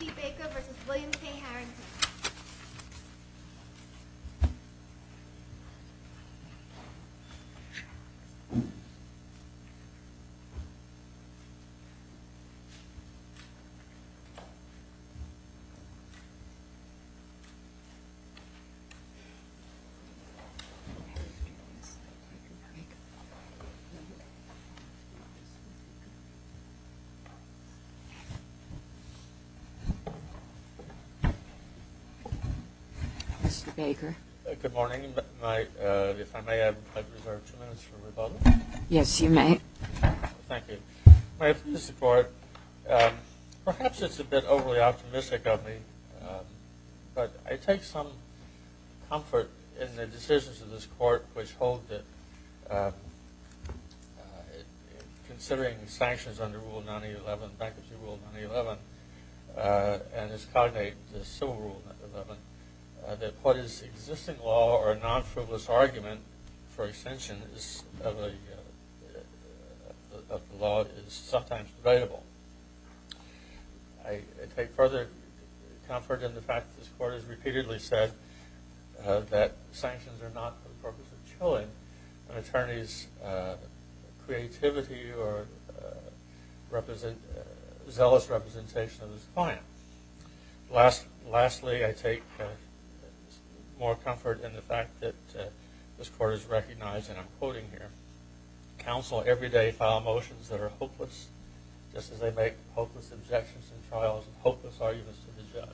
Katie Baker v. William K. Harrington Mr. Baker, perhaps it's a bit overly optimistic of me, but I take some comfort in the decisions of this Court which hold that, considering sanctions under Rule 9A11, Bankruptcy Rule 9A11, and this cognate Civil Rule 9A11, that what is existing law or a non-frivolous argument for extension of the law is sometimes prevailable. I take further comfort in the fact that this is not, for the purpose of chilling, an attorney's creativity or zealous representation of his client. Lastly, I take more comfort in the fact that this Court has recognized, and I'm quoting here, counsel every day file motions that are hopeless, just as they make hopeless objections in trials and hopeless arguments to the judge.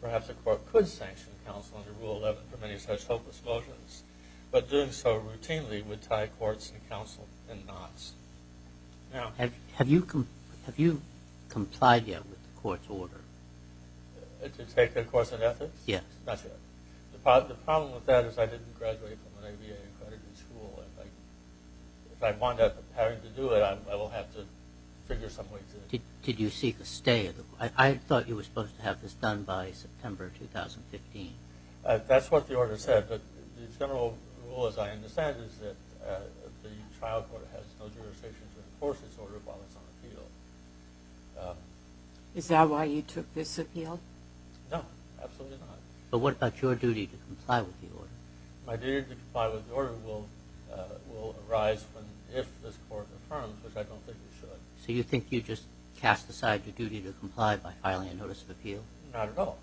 Perhaps the Court could sanction counsel under Rule 11 for many such hopeless motions, but doing so routinely would tie courts and counsel in knots. Have you complied yet with the Court's order? To take a course in ethics? Yes. Not yet. The problem with that is I didn't graduate from an ABA accredited school. If I wind up having to do it, I will have to figure some way through it. Did you seek a stay? I thought you were supposed to have this done by September 2015. That's what the order said, but the general rule, as I understand it, is that the trial court has no jurisdiction to enforce its order while it's on appeal. Is that why you took this appeal? No, absolutely not. But what about your duty to comply with the order? My duty to comply with the order will arise if this Court confirms, which I don't think it should. So you think you just cast aside your duty to comply by filing a notice of appeal? Not at all.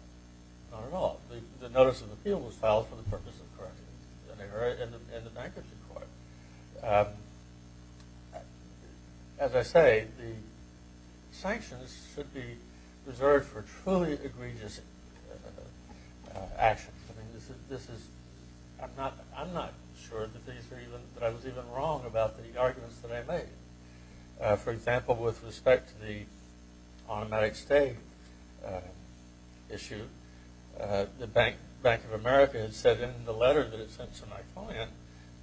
The notice of appeal was filed for the purpose of corrections in the bankruptcy court. As I say, the sanctions should be reserved for truly egregious actions. I'm not sure that I was even wrong about the arguments that I made. For example, with respect to the automatic stay issue, the Bank of America had said in the letter that it sent to my client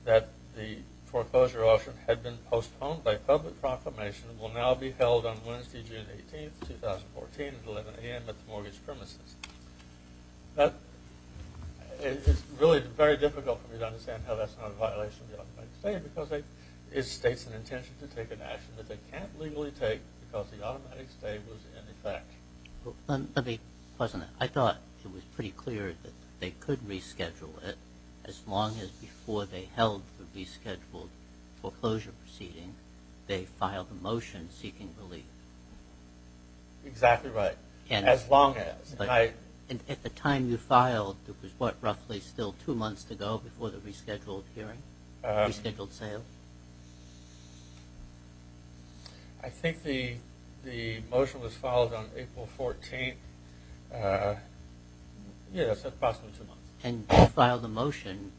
that the foreclosure option had been postponed by public proclamation and will now be held on Wednesday, June 18, 2014 at 11 a.m. at the mortgage premises. It's really very difficult for me to understand how that's not a violation of the automatic stay because it states an intention to take an action that they can't legally take because the automatic stay was in effect. Let me pause on that. I thought it was pretty clear that they could reschedule it as long as before they held the rescheduled foreclosure proceeding, they filed a motion seeking relief. Exactly right. As long as. At the time you filed, it was what, roughly still two months to go before the rescheduled hearing, rescheduled sale? I think the motion was filed on April 14. Yes, approximately two months. And you filed a motion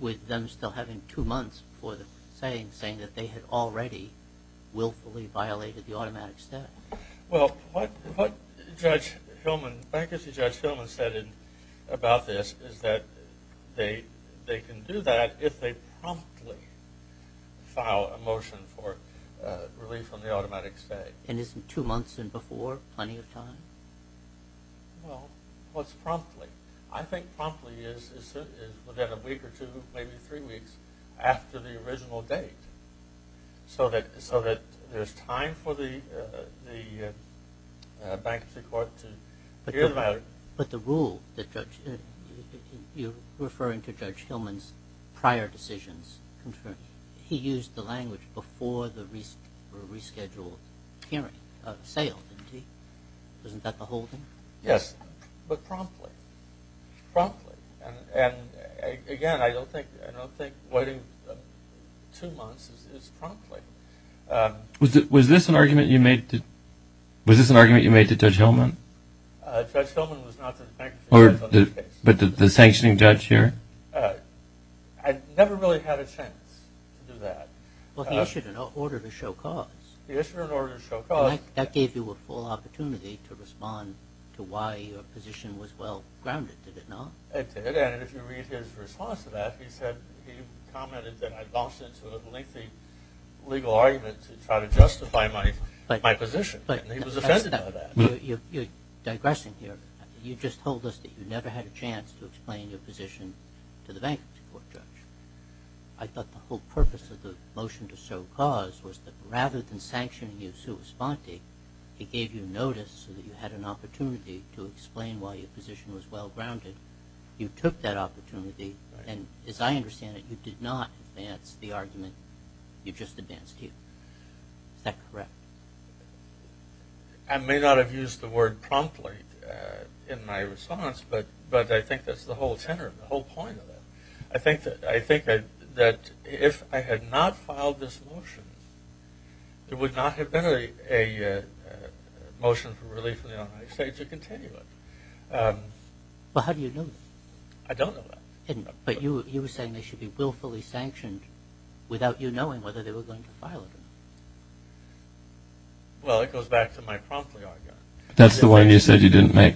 with them still having two months for the saying, saying that they had already willfully violated the automatic stay. Well, what Judge Hillman, bankruptcy Judge Hillman said about this is that they can do that if they promptly file a motion for relief on the automatic stay. And isn't two months and before plenty of time? Well, what's promptly? I think promptly is within a week or two, maybe three weeks after the original date, so that there's time for the bankruptcy court to hear about it. But the rule that Judge, you're referring to Judge Hillman's prior decisions, he used the language before the rescheduled hearing, sale, didn't he? Isn't that the whole thing? Yes, but promptly. Promptly. And again, I don't think waiting two months is promptly. Was this an argument you made to Judge Hillman? Judge Hillman was not the sanctioning judge on this case. But the sanctioning judge here? I never really had a chance to do that. Well, he issued an order to show cause. He issued an order to show cause. That gave you a full opportunity to respond to why your position was well-grounded, did it not? It did, and if you read his response to that, he commented that I'd lost it to a lengthy legal argument to try to justify my position, and he was offended by that. You're digressing here. You just told us that you never had a chance to explain your position to the bankruptcy court, Judge. I thought the whole purpose of the motion to show cause was that rather than sanctioning you sui sponte, he gave you notice so that you had an opportunity to explain why your position was well-grounded. You took that opportunity, and as I understand it, you did not advance the argument you just advanced here. Is that correct? I may not have used the word promptly in my response, but I think that's the whole center, the whole point of it. I think that if I had not filed this motion, there would not have been a motion for relief in the United States to continue it. Well, how do you know that? I don't know that. But you were saying they should be willfully sanctioned without you knowing whether they were going to file it. Well, it goes back to my promptly argument. That's the one you said you didn't make?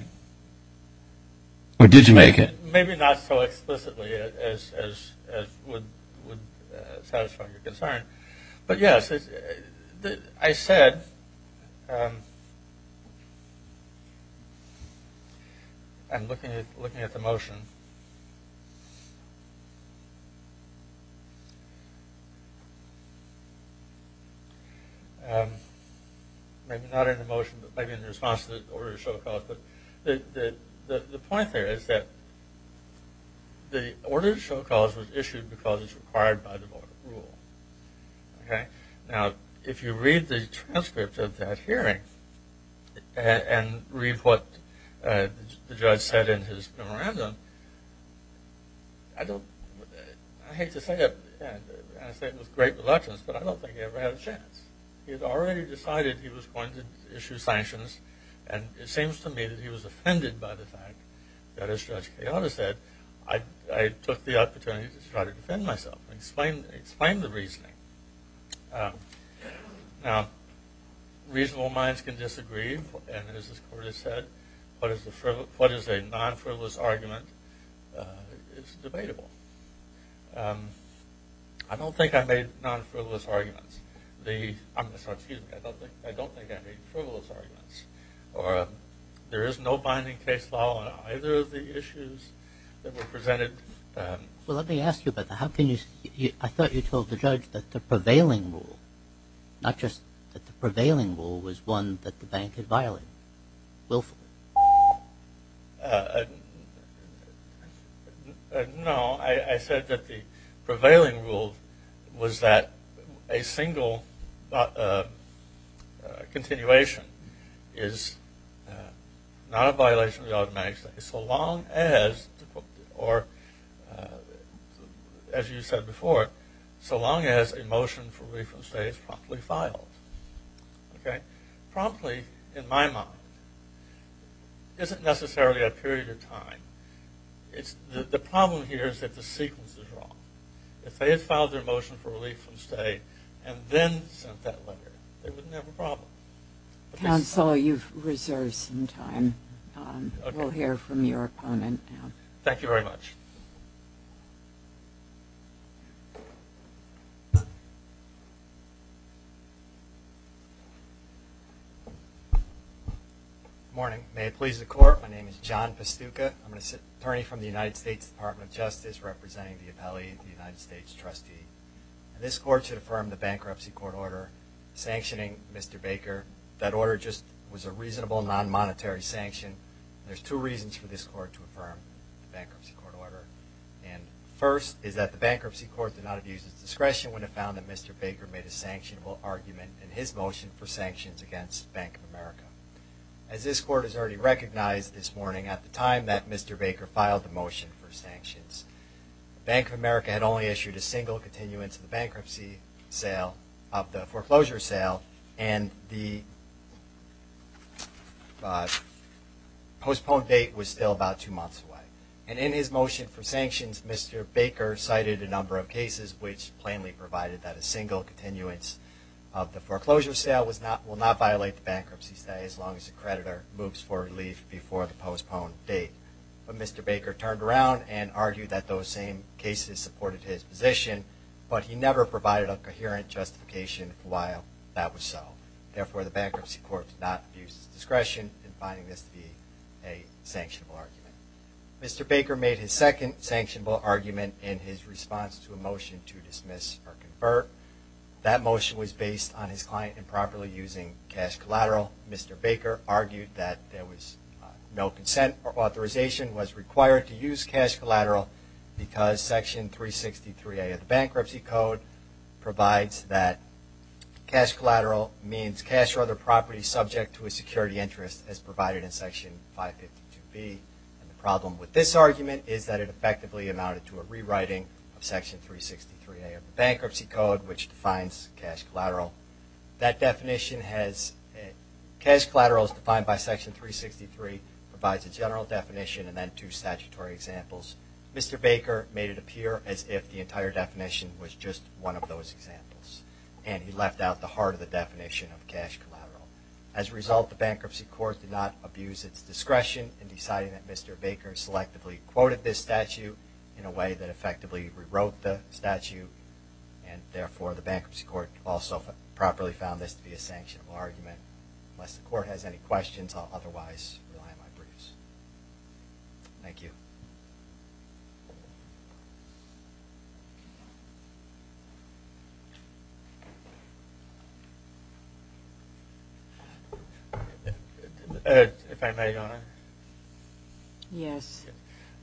Or did you make it? Maybe not so explicitly as would satisfy your concern. But yes, I said I'm looking at the motion. Maybe not in the motion, but maybe in response to the order to show cause. But the point there is that the order to show cause was issued because it's required by the voter rule. Now, if you read the transcript of that hearing and read what the judge said in his memorandum, I hate to say it, and I say it with great reluctance, but I don't think he ever had a chance. He had already decided he was going to issue sanctions, and it seems to me that he was offended by the fact that, as Judge Kayada said, I took the opportunity to try to defend myself and explain the reasoning. Now, reasonable minds can disagree, and as this court has said, what is a non-frivolous argument is debatable. I don't think I made non-frivolous arguments. I'm sorry, excuse me. I don't think I made frivolous arguments. There is no binding case law on either of the issues that were presented. Well, let me ask you about that. I thought you told the judge that the prevailing rule, not just that the prevailing rule was one that the bank had violated willfully. No. I said that the prevailing rule was that a single continuation is not a violation of the automatic state, so long as, or as you said before, so long as a motion for refund stay is promptly filed. Promptly, in my mind, isn't necessarily a period of time. The problem here is that the sequence is wrong. If they had filed their motion for relief from stay and then sent that letter, they wouldn't have a problem. Counsel, you've reserved some time. We'll hear from your opponent now. Thank you very much. Good morning. May it please the Court, my name is John Pastuca. I'm an attorney from the United States Department of Justice, representing the appellee and the United States trustee. This Court should affirm the bankruptcy court order sanctioning Mr. Baker. That order just was a reasonable non-monetary sanction. There's two reasons for this Court to affirm the bankruptcy court order. First is that the bankruptcy court did not abuse its discretion when it found that Mr. Baker made a sanctionable argument in his motion for sanctions against Bank of America. As this Court has already recognized this morning, at the time that Mr. Baker filed the motion for sanctions, Bank of America had only issued a single continuance of the bankruptcy sale, of the foreclosure sale, and the postponed date was still about two months away. And in his motion for sanctions, Mr. Baker cited a number of cases which plainly provided that a single continuance of the foreclosure sale will not violate the bankruptcy stay as long as the creditor moves for relief before the postponed date. But Mr. Baker turned around and argued that those same cases supported his position, but he never provided a coherent justification for why that was so. Therefore, the bankruptcy court did not abuse its discretion in finding this to be a sanctionable argument. Mr. Baker made his second sanctionable argument in his response to a motion to dismiss or convert. That motion was based on his client improperly using cash collateral. Mr. Baker argued that there was no consent or authorization was required to use cash collateral because Section 363A of the Bankruptcy Code provides that cash collateral means cash or other property subject to a security interest as provided in Section 552B. The problem with this argument is that it effectively amounted to a rewriting of Section 363A of the Bankruptcy Code, which defines cash collateral. Cash collateral as defined by Section 363 provides a general definition and then two statutory examples. Mr. Baker made it appear as if the entire definition was just one of those examples, and he left out the heart of the definition of cash collateral. As a result, the bankruptcy court did not abuse its discretion in deciding that Mr. Baker selectively quoted this statute in a way that effectively rewrote the statute, and therefore the bankruptcy court also properly found this to be a sanctionable argument. Unless the court has any questions, I'll otherwise rely on my briefs. Thank you. If I may, Your Honor? Yes.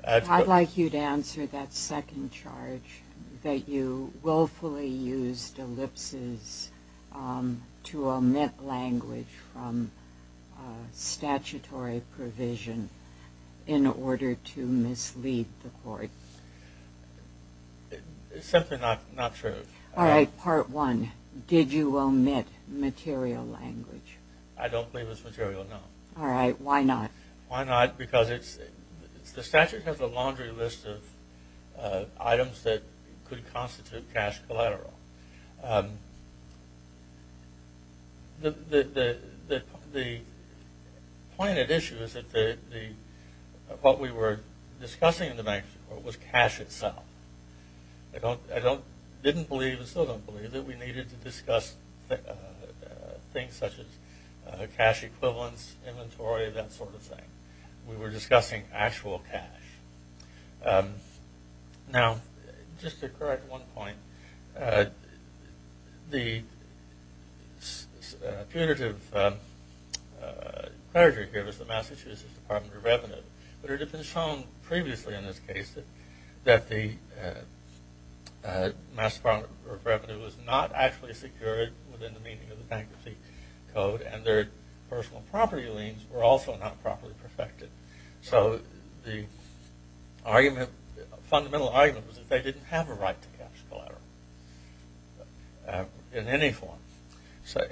I'd like you to answer that second charge that you willfully used ellipses to omit language from statutory provision in order to mislead the court. It's simply not true. All right. Part one, did you omit material language? I don't believe it's material, no. All right. Why not? Why not? Because the statute has a laundry list of items that could constitute cash collateral. The point at issue is that what we were discussing in the bankruptcy court was cash itself. I didn't believe and still don't believe that we needed to discuss things such as cash equivalents, inventory, that sort of thing. We were discussing actual cash. Now, just to correct one point, the punitive clergy here was the Massachusetts Department of Revenue, but it had been shown previously in this case that the Massachusetts Department of Revenue was not actually secured within the meaning of the bankruptcy code and their personal property liens were also not properly perfected. So the fundamental argument was that they didn't have a right to cash collateral in any form,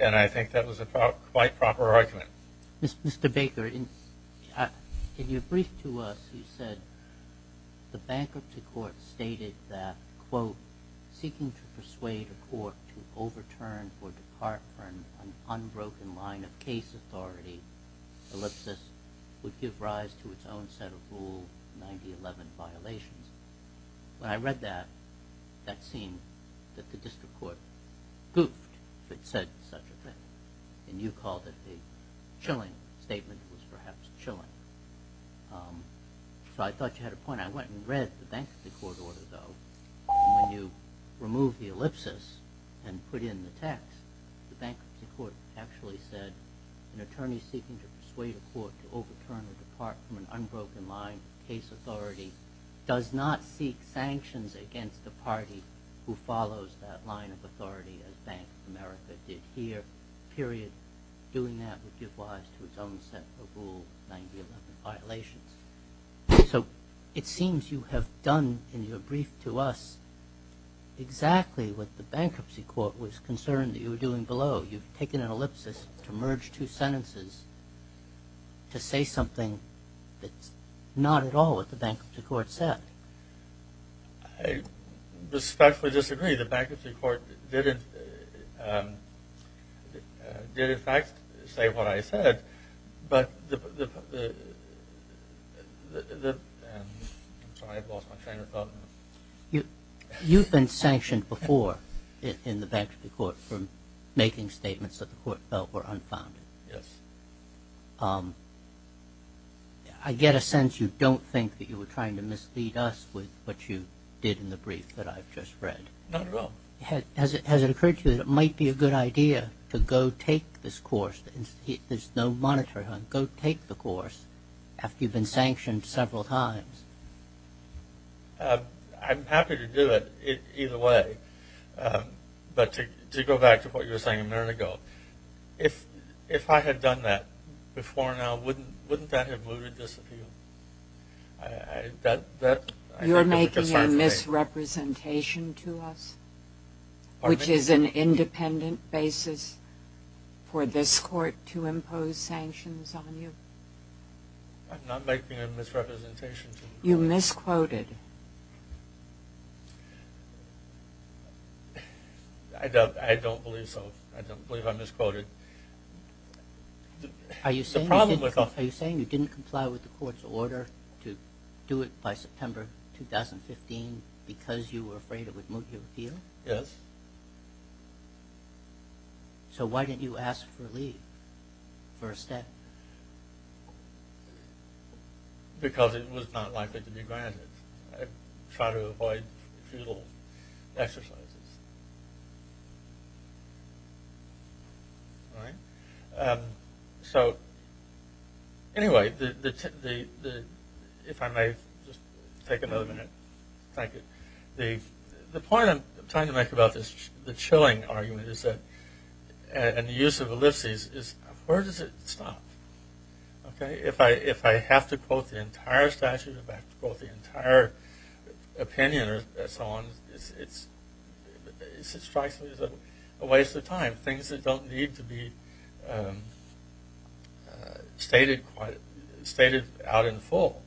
and I think that was a quite proper argument. Mr. Baker, in your brief to us, you said the bankruptcy court stated that, quote, seeking to persuade a court to overturn or depart from an unbroken line of case authority, ellipsis, would give rise to its own set of Rule 9011 violations. When I read that, that seemed that the district court goofed if it said such a thing, and you called it the chilling statement. It was perhaps chilling. So I thought you had a point. I went and read the bankruptcy court order, though, and when you removed the ellipsis and put in the text, the bankruptcy court actually said an attorney seeking to persuade a court to overturn or depart from an unbroken line of case authority does not seek sanctions against the party who follows that line of authority as Bank of America did here, period, doing that would give rise to its own set of Rule 9011 violations. So it seems you have done in your brief to us exactly what the bankruptcy court was concerned that you were doing below. You've taken an ellipsis to merge two sentences to say something that's not at all what the bankruptcy court said. I respectfully disagree. The bankruptcy court did, in fact, say what I said, but the – I'm sorry. I've lost my train of thought. You've been sanctioned before in the bankruptcy court from making statements that the court felt were unfounded. Yes. I get a sense you don't think that you were trying to mislead us with what you did in the brief that I've just read. Not at all. Has it occurred to you that it might be a good idea to go take this course? There's no monitoring on it. Go take the course after you've been sanctioned several times. I'm happy to do it either way, but to go back to what you were saying a minute ago, if I had done that before now, wouldn't that have mooted this appeal? You're making a misrepresentation to us, which is an independent basis for this court to impose sanctions on you. I'm not making a misrepresentation to you. You misquoted. You misquoted. I don't believe so. I don't believe I misquoted. Are you saying you didn't comply with the court's order to do it by September 2015 because you were afraid it would moot your appeal? Yes. So why didn't you ask for leave, for a step? Because it was not likely to be granted. I try to avoid futile exercises. All right. So anyway, if I may just take another minute. Thank you. The point I'm trying to make about the chilling argument and the use of ellipses is where does it stop? If I have to quote the entire statute, if I have to quote the entire opinion or so on, it strikes me as a waste of time, things that don't need to be stated out in full.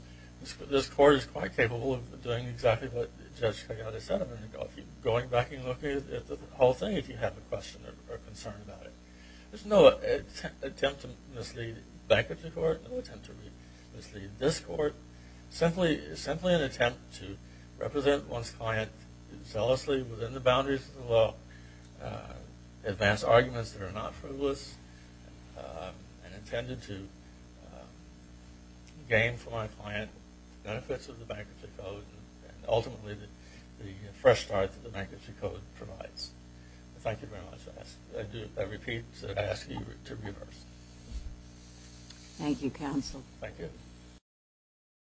This court is quite capable of doing exactly what Judge Cagliate said a minute ago, going back and looking at the whole thing if you have a question or concern about it. There's no attempt to mislead bankruptcy court, no attempt to mislead this court, simply an attempt to represent one's client zealously within the boundaries of the law, advance arguments that are not frivolous, and intended to gain for my client benefits of the Bankruptcy Code and ultimately the fresh start that the Bankruptcy Code provides. Thank you very much. I repeat and ask you to reverse. Thank you, counsel. Thank you.